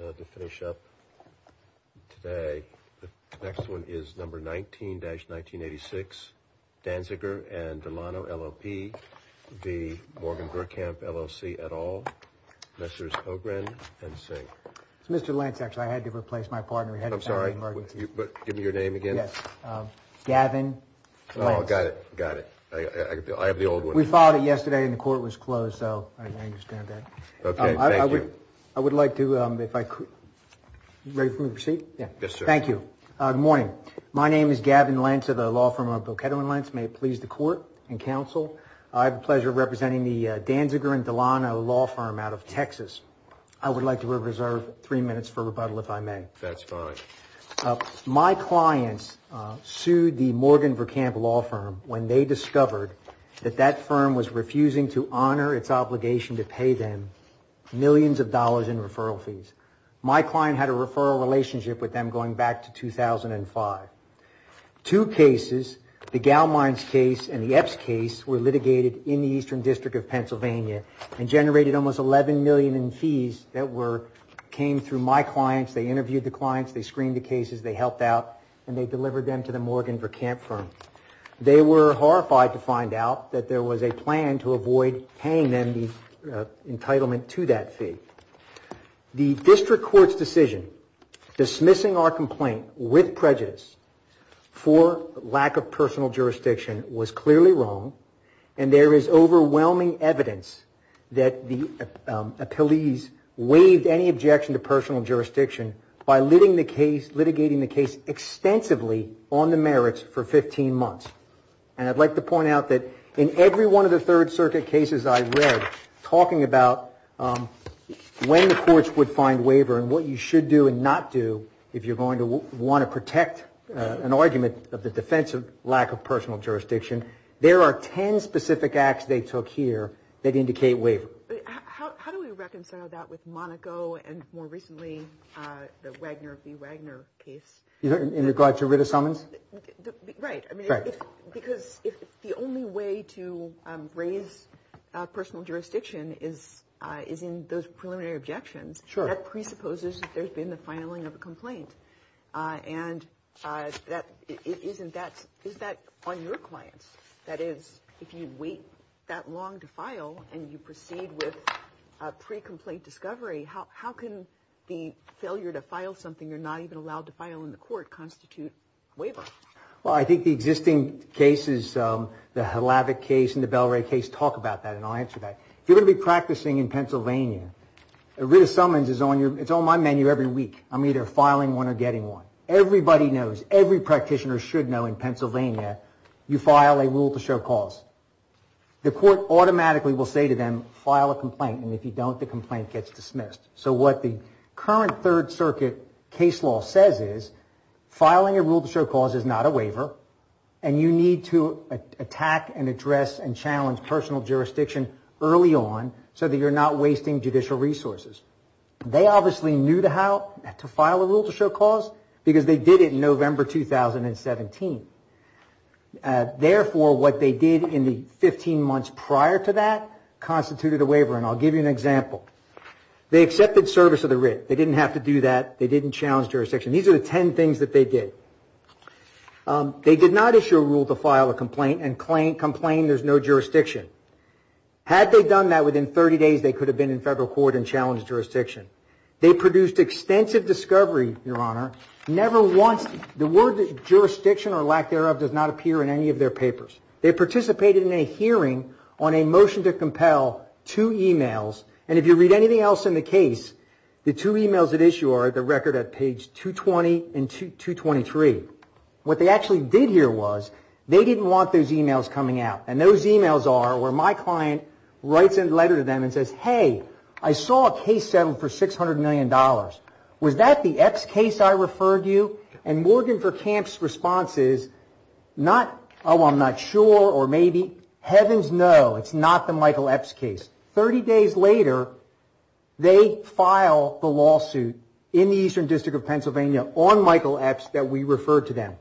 Lance. I had to replace my partner. I'm sorry. Give me your name again. Gavin. Got it. Got it. I have the old one. We filed it yesterday and the court was closed. So I understand that. I would like to, if I could, ready for me to proceed? Yes, sir. Thank you. Good morning. My name is Gavin Lentz of the law firm of Boqueto and Lentz. May it please the court and counsel, I have the pleasure of representing the Danziger and Delano law firm out of Texas. I would like to reserve three minutes for rebuttal if I may. That's fine. My clients sued the Morgan Verkamp law firm when they discovered that that firm was refusing to pay them millions of dollars in referral fees. My client had a referral relationship with them going back to 2005. Two cases, the Gaumeins case and the Epps case, were litigated in the Eastern District of Pennsylvania and generated almost $11 million in fees that came through my clients. They interviewed the clients, they screened the cases, they helped out, and they delivered them to the Morgan Verkamp firm. They were horrified to The district court's decision dismissing our complaint with prejudice for lack of personal jurisdiction was clearly wrong, and there is overwhelming evidence that the appellees waived any objection to personal jurisdiction by litigating the case extensively on the merits for 15 months. And I'd like to point out that in every one of the Third Circuit cases I read talking about when the courts would find waiver and what you should do and not do if you're going to want to protect an argument of the defense of lack of personal jurisdiction, there are 10 specific acts they took here that indicate waiver. How do we reconcile that with Monaco and more recently the Wagner v. Wagner case? In regards to writ of summons? Right. Because if the only way to raise personal jurisdiction is in those preliminary objections, that presupposes that there's been the filing of a complaint. And is that on your clients? That is, if you wait that long to file and you proceed with pre-complaint discovery, how can the failure to file something you're not even allowed to file in the court constitute waiver? Well, I think the existing cases, the Hlavik case and the Belray case, talk about that and I'll answer that. If you're going to be practicing in Pennsylvania, a writ of summons is on my menu every week. I'm either filing one or getting one. Everybody knows, every practitioner should know in Pennsylvania you file a rule to show cause. The court automatically will say to them, file a complaint, and if you don't, the complaint gets dismissed. So what the current Third Circuit case law says is, filing a rule to show cause is not a waiver and you need to attack and address and challenge personal jurisdiction early on so that you're not wasting judicial resources. They obviously knew how to file a rule to show cause because they did it in November 2017. Therefore, what they did in the 15 months prior to that constituted a waiver and I'll give you an example. They accepted service of the writ. They didn't have to do that. They didn't challenge jurisdiction. These are the 10 things that they did. They did not issue a rule to file a complaint and complain there's no jurisdiction. Had they done that within 30 days, they could have been in federal court and challenged jurisdiction. They produced extensive discovery, Your Honor, never once the word jurisdiction or lack thereof does not appear in any of their papers. They participated in a hearing on a motion to compel two e-mails and if you read anything else in the case, the two e-mails that issue are at the record at page 220 and 223. What they actually did here was they didn't want those e-mails coming out and those e-mails are where my client writes a letter to them and says, hey, I saw a case settled for $600 million. Was that the Epps case I referred you? And Morgan Verkamp's response is not, oh, I'm not sure or maybe. Heavens no, it's not the Michael Epps case. 30 days later, they file the lawsuit in the Eastern District of Pennsylvania on Michael Epps that we referred to them.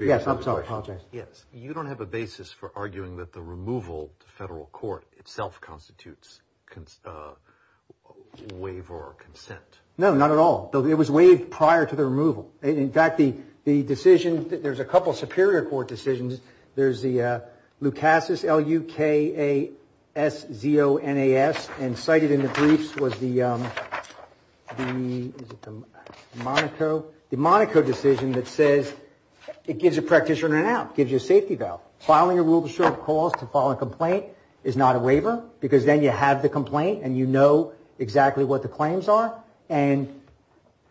Yes, I'm sorry, I apologize. Yes, you don't have a basis for arguing that the removal to federal court itself constitutes waiver or consent. No, not at all. It was waived prior to the removal. In fact, the decision, there's a couple of superior court decisions. There's the Lucasus, L-U-K-A-S-Z-O-N-A-S and cited in the briefs was the Monaco decision that says it gives a practitioner an out, gives you a safety valve. Filing a rule of short cause to file a complaint is not a waiver because then you have the complaint and you know exactly what the claims are. And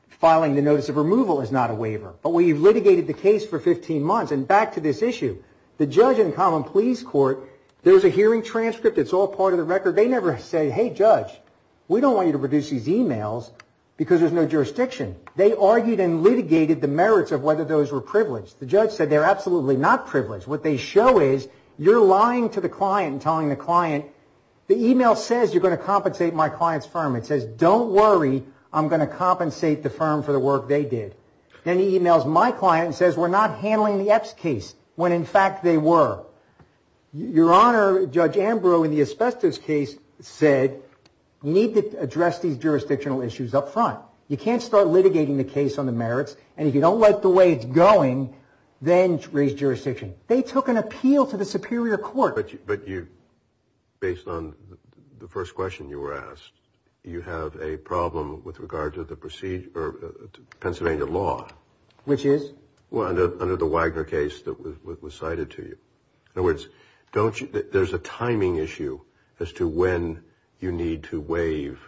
filing the notice of removal is not a waiver. But when you've litigated the case for 15 months, and back to this issue, the judge in common pleas court, there's a hearing transcript. It's all part of the record. They never say, hey, judge, we don't want you to produce these emails because there's no jurisdiction. They argued and litigated the merits of whether those were privileged. The judge said they're absolutely not privileged. What they show is you're lying to the client and telling the client the email says you're going to compensate my client's firm. It says don't worry, I'm going to compensate the firm for the work they did. Then he emails my client and says we're not handling the X case when in fact they were. Your Honor, Judge Ambrose in the Asbestos case said you need to address these jurisdictional issues up front. You can't start litigating the case on the merits and if you don't like the way it's going, then raise jurisdiction. They took an appeal to the superior court. But you, based on the first question you were asked, you have a problem with regard to the Pennsylvania law. Which is? Under the Wagner case that was cited to you. In other words, there's a timing issue as to when you need to waive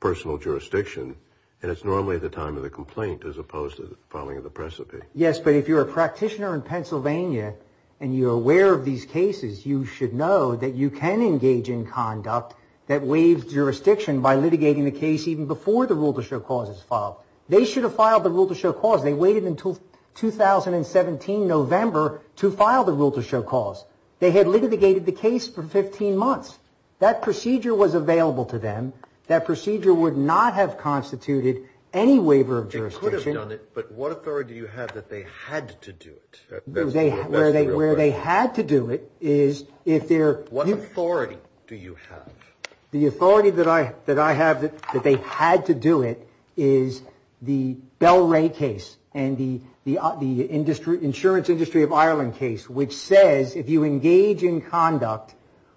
personal jurisdiction and it's normally at the time of the complaint as opposed to the filing of the precipice. Yes, but if you're a practitioner in Pennsylvania and you're aware of these cases, you should know that you can engage in conduct that waives jurisdiction by litigating the case even before the rule to show cause is filed. They should have filed the rule to show cause. They waited until 2017 November to file the rule to show cause. They had litigated the case for 15 months. That procedure was available to them. That procedure would not have constituted any waiver of jurisdiction. They could have done it, but what authority do you have that they had to do it? Where they had to do it is if they're What authority do you have? The authority that I have that they had to do it is the Bell Ray case and the insurance industry of Ireland case, which says if you engage in conduct,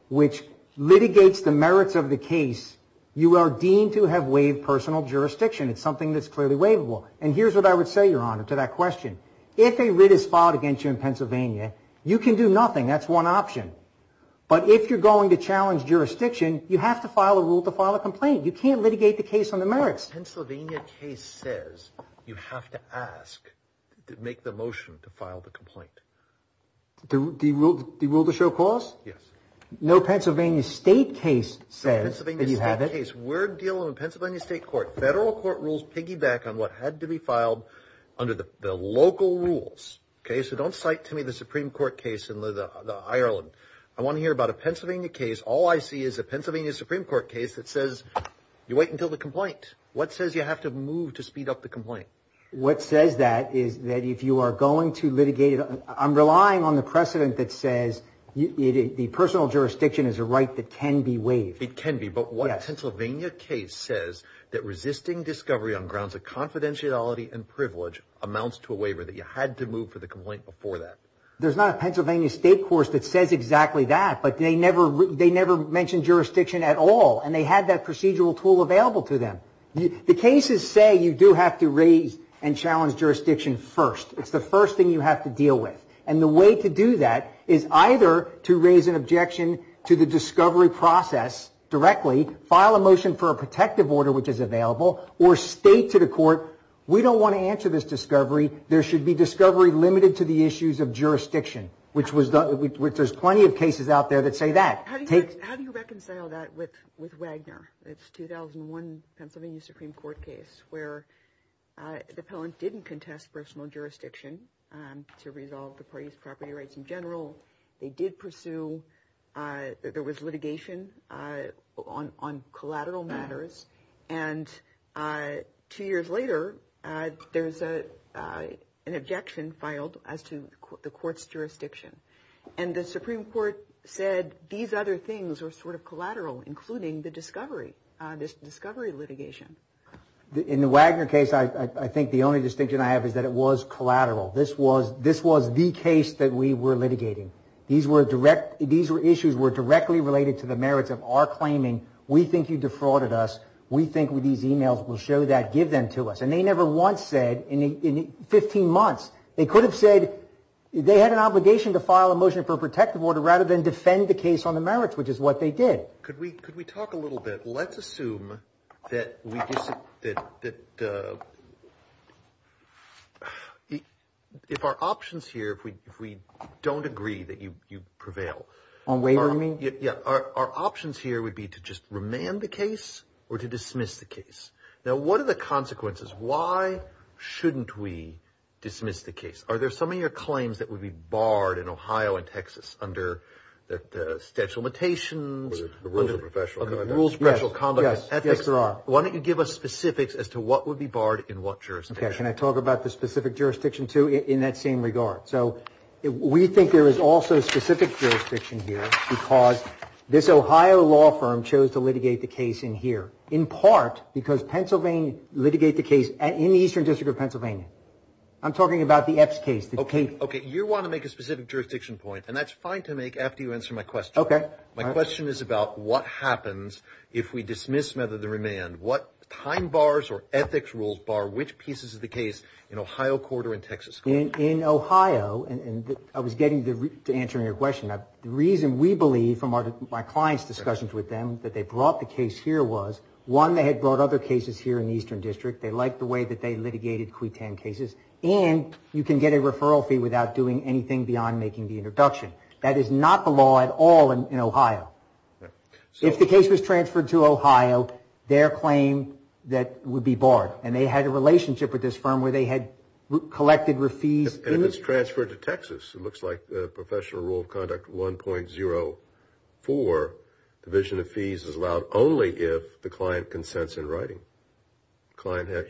which litigates the merits of the case, you are deemed to have waived personal jurisdiction. It's something that's clearly waivable. And here's what I would say, Your Honor, to that question. If a writ is filed against you in Pennsylvania, you can do nothing. That's one option. But if you're going to challenge jurisdiction, you have to file a rule to file a complaint. You can't litigate the case on the merits. The Pennsylvania case says you have to ask to make the motion to file the complaint. The rule to show cause? Yes. No Pennsylvania state case says that you have it. No Pennsylvania state case. We're dealing with Pennsylvania state court. Federal court rules piggyback on what had to be filed under the local rules. Okay, so don't cite to me the Supreme Court case in Ireland. I want to hear about a Pennsylvania case. All I see is a Pennsylvania Supreme Court case that says you wait until the complaint. What says you have to move to speed up the complaint? What says that is that if you are going to litigate, I'm relying on the precedent that says the personal jurisdiction is a right that can be waived. It can be, but what Pennsylvania case says that resisting discovery on grounds of confidentiality and privilege amounts to a waiver that you had to move for the complaint before that? There's not a Pennsylvania state court that says exactly that, but they never mentioned jurisdiction at all, and they had that procedural tool available to them. The cases say you do have to raise and challenge jurisdiction first. It's the first thing you have to deal with, and the way to do that is either to raise an objection to the discovery process directly, file a motion for a protective order which is available, or state to the court we don't want to answer this discovery. There should be discovery limited to the issues of jurisdiction, which there's plenty of cases out there that say that. How do you reconcile that with Wagner? It's 2001 Pennsylvania Supreme Court case where the appellant didn't contest personal jurisdiction to resolve the party's property rights in general. They did pursue, there was litigation on collateral matters, and two years later, there's an objection filed as to the court's jurisdiction, and the Supreme Court said these other things were sort of collateral, including the discovery litigation. In the Wagner case, I think the only distinction I have is that it was collateral. This was the case that we were litigating. These issues were directly related to the merits of our claiming, we think you defrauded us, we think these emails will show that, give them to us, and they never once said in 15 months, they could have said they had an obligation to file a motion for a protective order rather than defend the case on the merits, which is what they did. Could we talk a little bit, let's assume that if our options here, if we don't agree that you prevail, our options here would be to just remand the case or to dismiss the case. Now, what are the consequences? Why shouldn't we dismiss the case? Are there some of your claims that would be barred in Ohio and Texas under the statute of limitations? Rules of professional conduct. Rules of professional conduct. Yes, there are. Why don't you give us specifics as to what would be barred in what jurisdiction? Can I talk about the specific jurisdiction, too, in that same regard? So we think there is also specific jurisdiction here because this Ohio law firm chose to litigate the case in here, in part because Pennsylvania litigated the case in the Eastern District of Pennsylvania. I'm talking about the EPS case. Okay, you want to make a specific jurisdiction point, and that's fine to make after you answer my question. Okay. My question is about what happens if we dismiss rather than remand. What time bars or ethics rules bar which pieces of the case in Ohio and I was getting to answering your question. The reason we believe from my client's discussions with them that they brought the case here was, one, they had brought other cases here in the Eastern District. They liked the way that they litigated Cuitan cases, and you can get a referral fee without doing anything beyond making the introduction. That is not the law at all in Ohio. If the case was transferred to Ohio, their claim that would be barred, and they had a relationship with this firm where they had collected fees. And if it's transferred to Texas, it looks like the professional rule of conduct 1.04, division of fees is allowed only if the client consents in writing.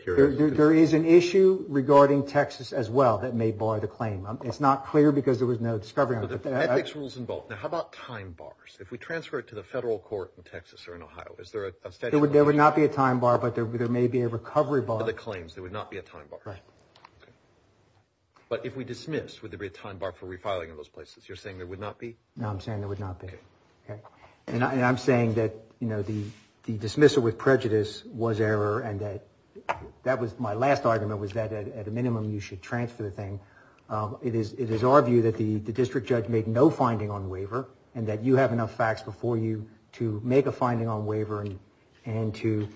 There is an issue regarding Texas as well that may bar the claim. It's not clear because there was no discovery. Ethics rules involved. Now, how about time bars? If we transfer it to the federal court in Texas or in Ohio, is there a statute of limitations? There would not be a time bar, but there may be a recovery bar. For the claims, there would not be a time bar. But if we dismiss, would there be a time bar for refiling in those places? You're saying there would not be? No, I'm saying there would not be. And I'm saying that the dismissal with prejudice was error and that that was my last argument was that at a minimum you should transfer the thing. It is our view that the district judge made no finding on waiver and that you have enough facts before you to make a finding on waiver and to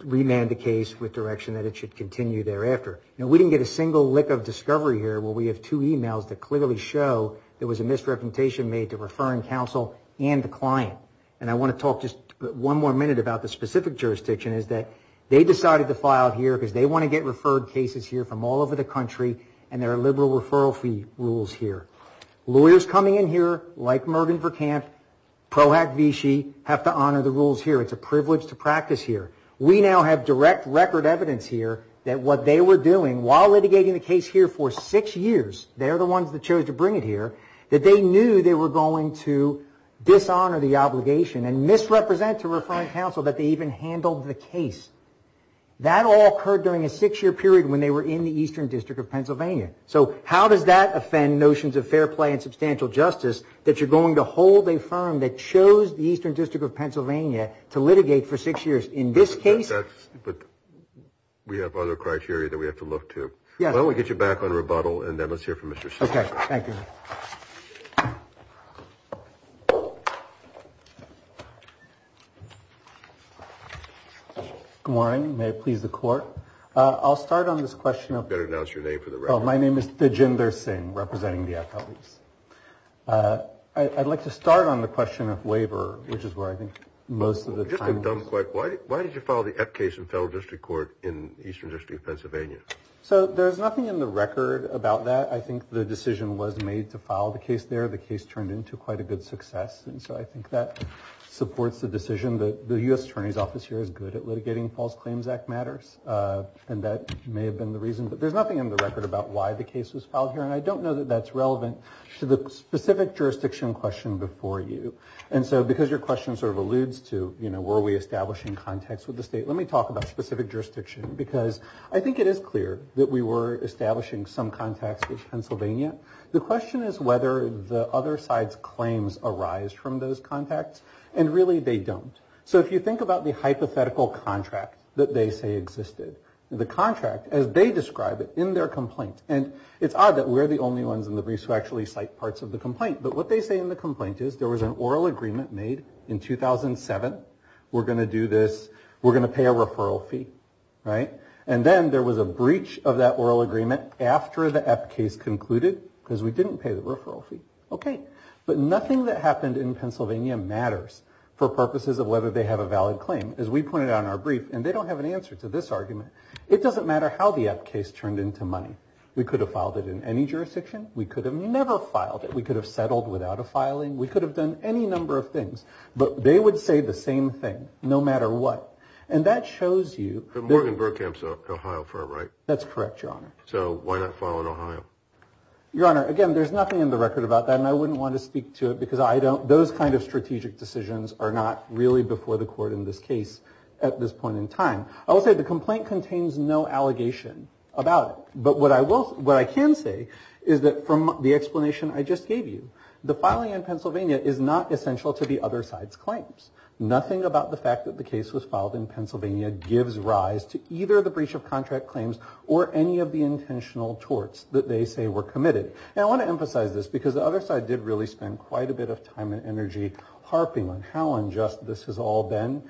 remand the case with direction that it should continue thereafter. Now, we didn't get a single lick of discovery here. We have two emails that clearly show there was a misrepresentation made to referring counsel and the client. And I want to talk just one more minute about the specific jurisdiction is that they decided to file here because they want to get referred cases here from all over the country and there are liberal referral fee rules here. Lawyers coming in here like Mervyn Verkamp, Proact Vichy have to honor the rules here. It's a privilege to practice here. We now have direct record evidence here that what they were doing while litigating the case here for six years, they're the ones that chose to bring it here, that they knew they were going to dishonor the obligation and misrepresent to referring counsel that they even handled the case. That all occurred during a six-year period when they were in the Eastern District of Fair Play and Substantial Justice that you're going to hold a firm that chose the Eastern District of Pennsylvania to litigate for six years in this case. But we have other criteria that we have to look to. Well, we'll get you back on rebuttal and then let's hear from Mr. Singh. Okay. Thank you. Good morning. May it please the court. I'll start on this question. You better announce your name for the record. My name is Dijinder Singh, representing the FLEs. I'd like to start on the question of waiver, which is where I think most of the time. Why did you file the F case in federal district court in Eastern District of Pennsylvania? So there's nothing in the record about that. I think the decision was made to file the case there. The case turned into quite a good success. And so I think that supports the decision that the U.S. Attorney's Office here is good at litigating False Claims Act matters. And that may have been the reason. But there's nothing in the record about why the case was filed here. And I don't know that that's relevant to the specific jurisdiction question before you. And so because your question sort of alludes to, you know, were we establishing contacts with the state, let me talk about specific jurisdiction. Because I think it is clear that we were establishing some contacts with Pennsylvania. The question is whether the other side's claims arise from those contacts. And really they don't. So if you think about the hypothetical contract that they say existed, the contract as they describe it in their complaint. And it's odd that we're the only ones in the briefs who actually cite parts of the complaint. But what they say in the complaint is there was an oral agreement made in 2007. We're going to do this. We're going to pay a referral fee. Right? And then there was a breach of that oral agreement after the F case concluded because we didn't pay the referral fee. Okay. But nothing that happened in Pennsylvania matters for purposes of whether they have a valid claim. As we pointed out in our brief, and they don't have an answer to this argument, it doesn't matter how the F case turned into money. We could have filed it in any jurisdiction. We could have never filed it. We could have settled without a filing. We could have done any number of things. But they would say the same thing no matter what. And that shows you that. But Morgan Burkham's an Ohio firm, right? That's correct, Your Honor. So why not file in Ohio? Your Honor, again, there's nothing in the record about that. And I wouldn't want to speak to it because I don't. Those kind of strategic decisions are not really before the court in this case at this point in time. I will say the complaint contains no allegation about it. But what I can say is that from the explanation I just gave you, the filing in Pennsylvania is not essential to the other side's claims. Nothing about the fact that the case was filed in Pennsylvania gives rise to either the breach of contract claims or any of the intentional torts that they say were committed. And I want to emphasize this because the other side did really spend quite a bit of time and energy harping on how unjust this has all been.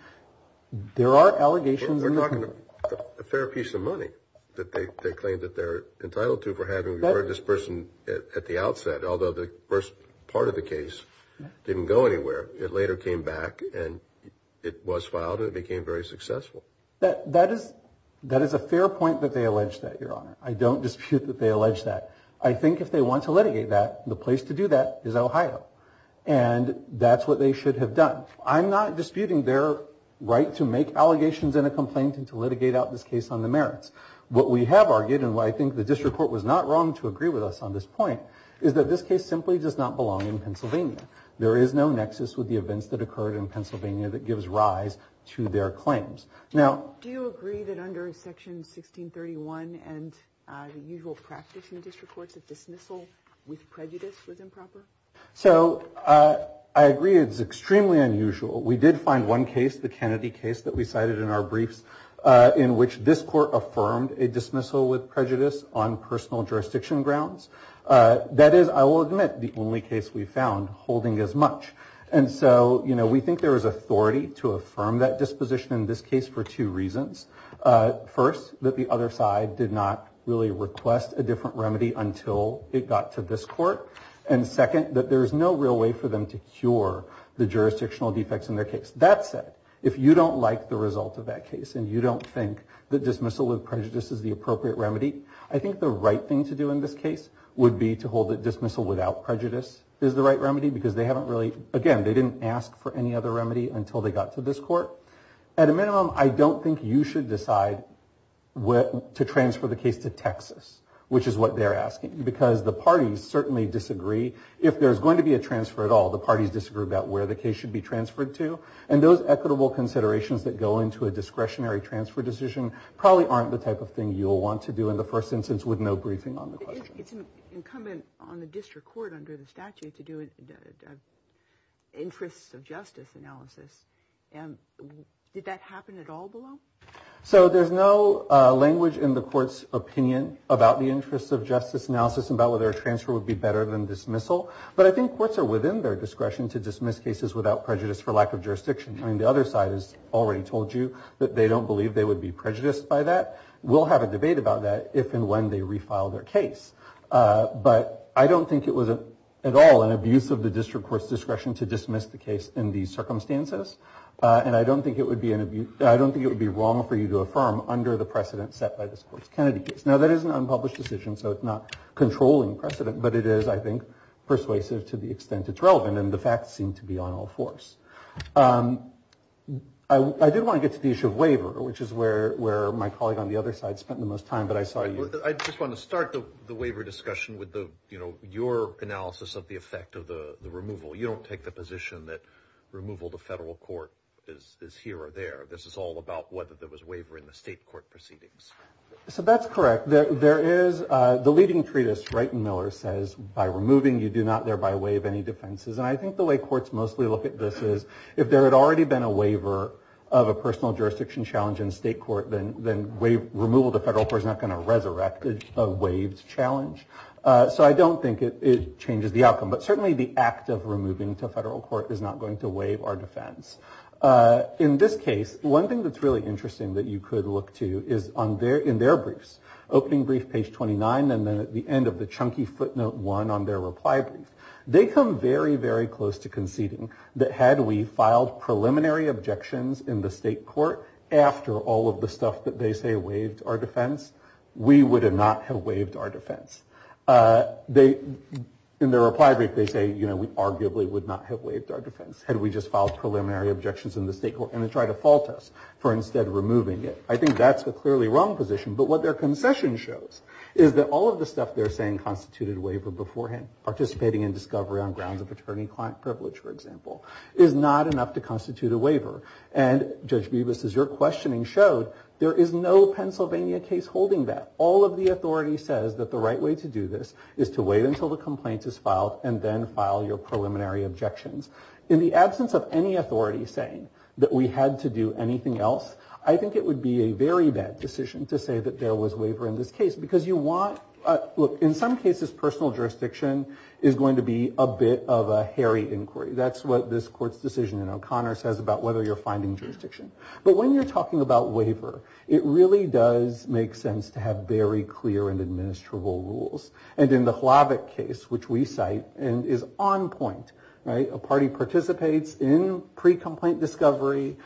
There are allegations in the court. They're talking about a fair piece of money that they claim that they're entitled to for having referred this person at the outset, although the first part of the case didn't go anywhere. It later came back, and it was filed, and it became very successful. That is a fair point that they allege that, Your Honor. I don't dispute that they allege that. I think if they want to litigate that, the place to do that is Ohio. And that's what they should have done. I'm not disputing their right to make allegations in a complaint and to litigate out this case on the merits. What we have argued, and what I think the district court was not wrong to agree with us on this point, is that this case simply does not belong in Pennsylvania. There is no nexus with the events that occurred in Pennsylvania that gives rise to their claims. Do you agree that under Section 1631 and the usual practice in the district courts, a dismissal with prejudice was improper? I agree it's extremely unusual. We did find one case, the Kennedy case that we cited in our briefs, in which this court affirmed a dismissal with prejudice on personal jurisdiction grounds. That is, I will admit, the only case we found holding as much. And so, you know, we think there is authority to affirm that disposition in this case for two reasons. First, that the other side did not really request a different remedy until it got to this court. And second, that there is no real way for them to cure the jurisdictional defects in their case. That said, if you don't like the result of that case, and you don't think that dismissal with prejudice is the appropriate remedy, I think the right thing to do in this case would be to hold that dismissal without prejudice is the right remedy, because they haven't really, again, they didn't ask for any other remedy until they got to this court. At a minimum, I don't think you should decide to transfer the case to Texas, which is what they're asking, because the parties certainly disagree. If there's going to be a transfer at all, the parties disagree about where the case should be transferred to. And those equitable considerations that go into a discretionary transfer decision probably aren't the type of thing you'll want to do in the first instance with no briefing on the question. It's incumbent on the district court under the statute to do an interests of justice analysis. Did that happen at all below? So there's no language in the court's opinion about the interests of justice analysis and about whether a transfer would be better than dismissal. But I think courts are within their discretion to dismiss cases without prejudice for lack of jurisdiction. I mean, the other side has already told you that they don't believe they would be prejudiced by that. We'll have a debate about that if and when they refile their case. But I don't think it was at all an abuse of the district court's discretion to dismiss the case in these circumstances. And I don't think it would be wrong for you to affirm under the precedent set by this Kennedy case. Now, that is an unpublished decision, so it's not controlling precedent. But it is, I think, persuasive to the extent it's relevant. And the facts seem to be on all fours. I did want to get to the issue of waiver, which is where my colleague on the other side spent the most time. But I saw you. I just want to start the waiver discussion with your analysis of the effect of the removal. You don't take the position that removal to federal court is here or there. This is all about whether there was waiver in the state court proceedings. So that's correct. There is. The leading treatise, Wright and Miller, says by removing, you do not thereby waive any defenses. And I think the way courts mostly look at this is if there had already been a waiver of a personal jurisdiction challenge in state court, then removal to federal court is not going to resurrect a waived challenge. So I don't think it changes the outcome. But certainly the act of removing to federal court is not going to waive our defense. In this case, one thing that's really interesting that you could look to is in their briefs, opening brief, page 29, and then at the end of the chunky footnote one on their reply brief. They come very, very close to conceding that had we filed preliminary objections in the state court after all of the stuff that they say waived our defense, we would not have waived our defense. They, in their reply brief, they say, you know, we arguably would not have waived our defense had we just filed preliminary objections in the state court and then tried to fault us for instead removing it. I think that's a clearly wrong position. But what their concession shows is that all of the stuff they're saying constituted a waiver beforehand, participating in discovery on grounds of attorney-client privilege, for example, is not enough to constitute a waiver. And Judge Bibas, as your questioning showed, there is no Pennsylvania case holding that. All of the authority says that the right way to do this is to wait until the complaint is filed and then file your preliminary objections. In the absence of any authority saying that we had to do anything else, I think it would be a very bad decision to say that there was waiver in this case because you want, look, in some cases personal jurisdiction is going to be a bit of a hairy inquiry. That's what this court's decision in O'Connor says about whether you're finding jurisdiction. But when you're talking about waiver, it really does make sense to have very clear and administrable rules. And in the Hlavik case, which we cite, and is on point, right, a party participates in pre-complaint discovery,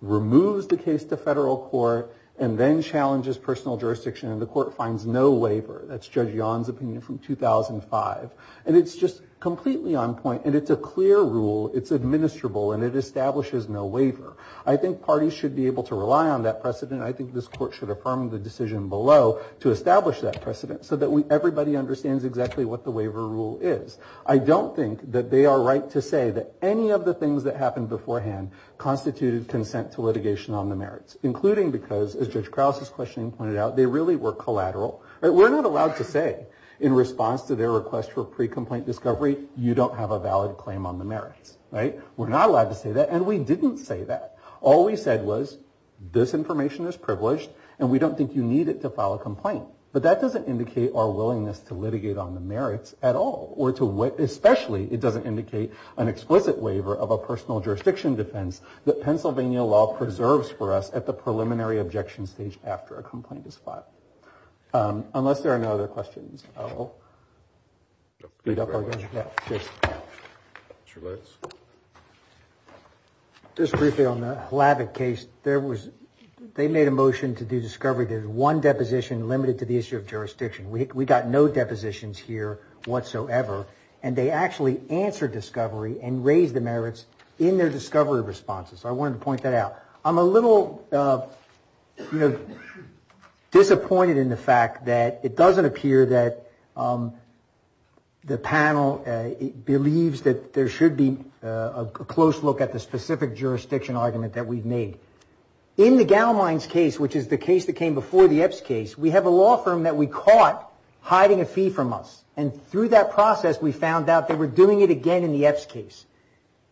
removes the case to federal court, and then challenges personal jurisdiction, and the court finds no waiver. That's Judge Yon's opinion from 2005. And it's just completely on point, and it's a clear rule. It's administrable, and it establishes no waiver. I think parties should be able to rely on that precedent. I think this court should affirm the decision below to establish that precedent so that everybody understands exactly what the waiver rule is. I don't think that they are right to say that any of the things that happened beforehand constituted consent to litigation on the merits, including because, as Judge Krause's questioning pointed out, they really were collateral. We're not allowed to say in response to their request for pre-complaint discovery, you don't have a valid claim on the merits, right? We're not allowed to say that, and we didn't say that. All we said was, this information is privileged, and we don't think you need it to file a complaint. But that doesn't indicate our willingness to litigate on the merits at all, or especially it doesn't indicate an explicit waiver of a personal jurisdiction defense that Pennsylvania law preserves for us at the preliminary objection stage after a complaint is filed. Unless there are no other questions, I will speed up our discussion. Just briefly on the Hlavik case, they made a motion to do discovery. There's one deposition limited to the issue of jurisdiction. We got no depositions here whatsoever, and they actually answered discovery and raised the merits in their discovery responses. I wanted to point that out. I'm a little, you know, disappointed in the fact that it doesn't appear that the panel believes that there should be a close look at the specific jurisdiction argument that we've made. In the Gaumeins case, which is the case that came before the Epps case, we have a law firm that we caught hiding a fee from us, and through that process, we found out they were doing it again in the Epps case.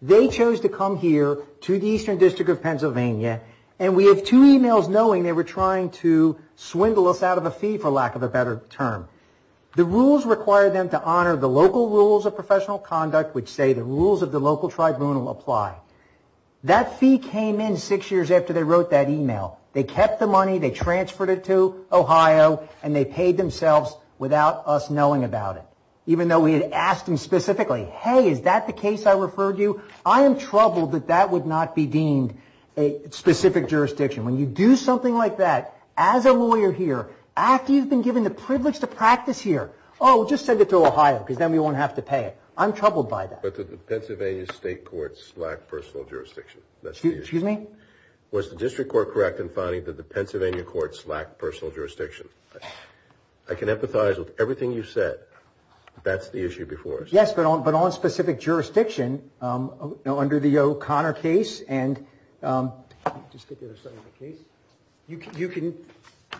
They chose to come here to the Eastern District of Pennsylvania, and we have two emails knowing they were trying to swindle us out of a fee, for lack of a better term. The rules required them to honor the local rules of professional conduct, which say the rules of the local tribunal apply. That fee came in six years after they wrote that email. They kept the money, they transferred it to Ohio, and they paid themselves without us knowing about it, even though we had asked them specifically, hey, is that the case I referred you? I am troubled that that would not be deemed a specific jurisdiction. When you do something like that as a lawyer here, after you've been given the privilege to practice here, oh, just send it to Ohio, because then we won't have to pay it. I'm troubled by that. But did the Pennsylvania state court slack personal jurisdiction? Excuse me? Was the district court correct in finding that the Pennsylvania court slacked personal jurisdiction? I can empathize with everything you've said, but that's the issue before us. Yes, but on specific jurisdiction, under the O'Connor case, and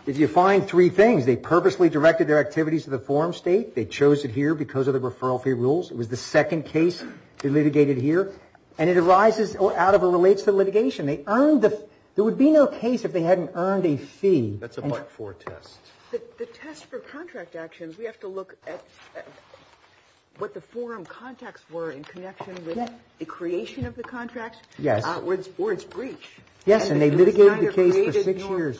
if you find three things, they purposely directed their activities to the forum state, they chose it here because of the referral fee rules, it was the second case they litigated here, and it arises out of or relates to litigation. There would be no case if they hadn't earned a fee. That's a part four test. The test for contract actions, we have to look at what the forum contacts were in connection with the creation of the contract. Yes. Or its breach. Yes, and they litigated the case for six years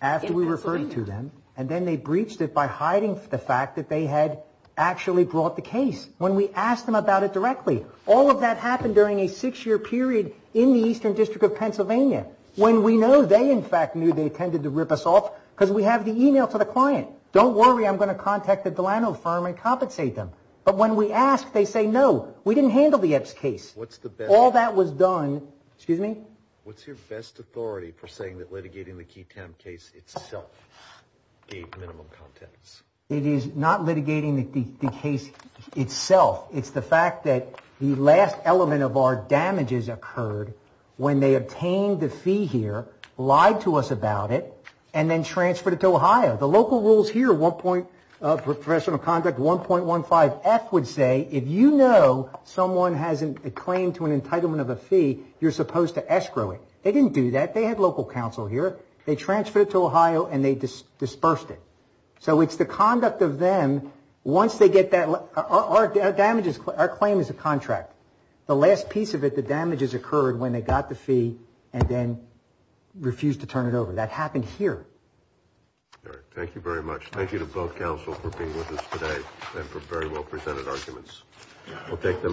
after we referred it to them, and then they breached it by hiding the fact that they had actually brought the case when we asked them about it directly. All of that happened during a six-year period in the Eastern District of Pennsylvania when we know they, in fact, knew they intended to rip us off because we have the e-mail to the client. Don't worry, I'm going to contact the Delano firm and compensate them. But when we ask, they say no, we didn't handle the EPS case. What's the best? All that was done. Excuse me? What's your best authority for saying that litigating the KeyTown case itself gave minimum contacts? It is not litigating the case itself. It's the fact that the last element of our damages occurred when they obtained the fee here, lied to us about it, and then transferred it to Ohio. The local rules here, professional conduct 1.15F would say, if you know someone has a claim to an entitlement of a fee, you're supposed to escrow it. They didn't do that. They had local counsel here. They transferred it to Ohio and they dispersed it. So it's the conduct of them, once they get that, our damages, our claim is a contract. The last piece of it, the damages occurred when they got the fee and then refused to turn it over. That happened here. All right. Thank you very much. Thank you to both counsel for being with us today and for very well presented arguments. We'll take the last one.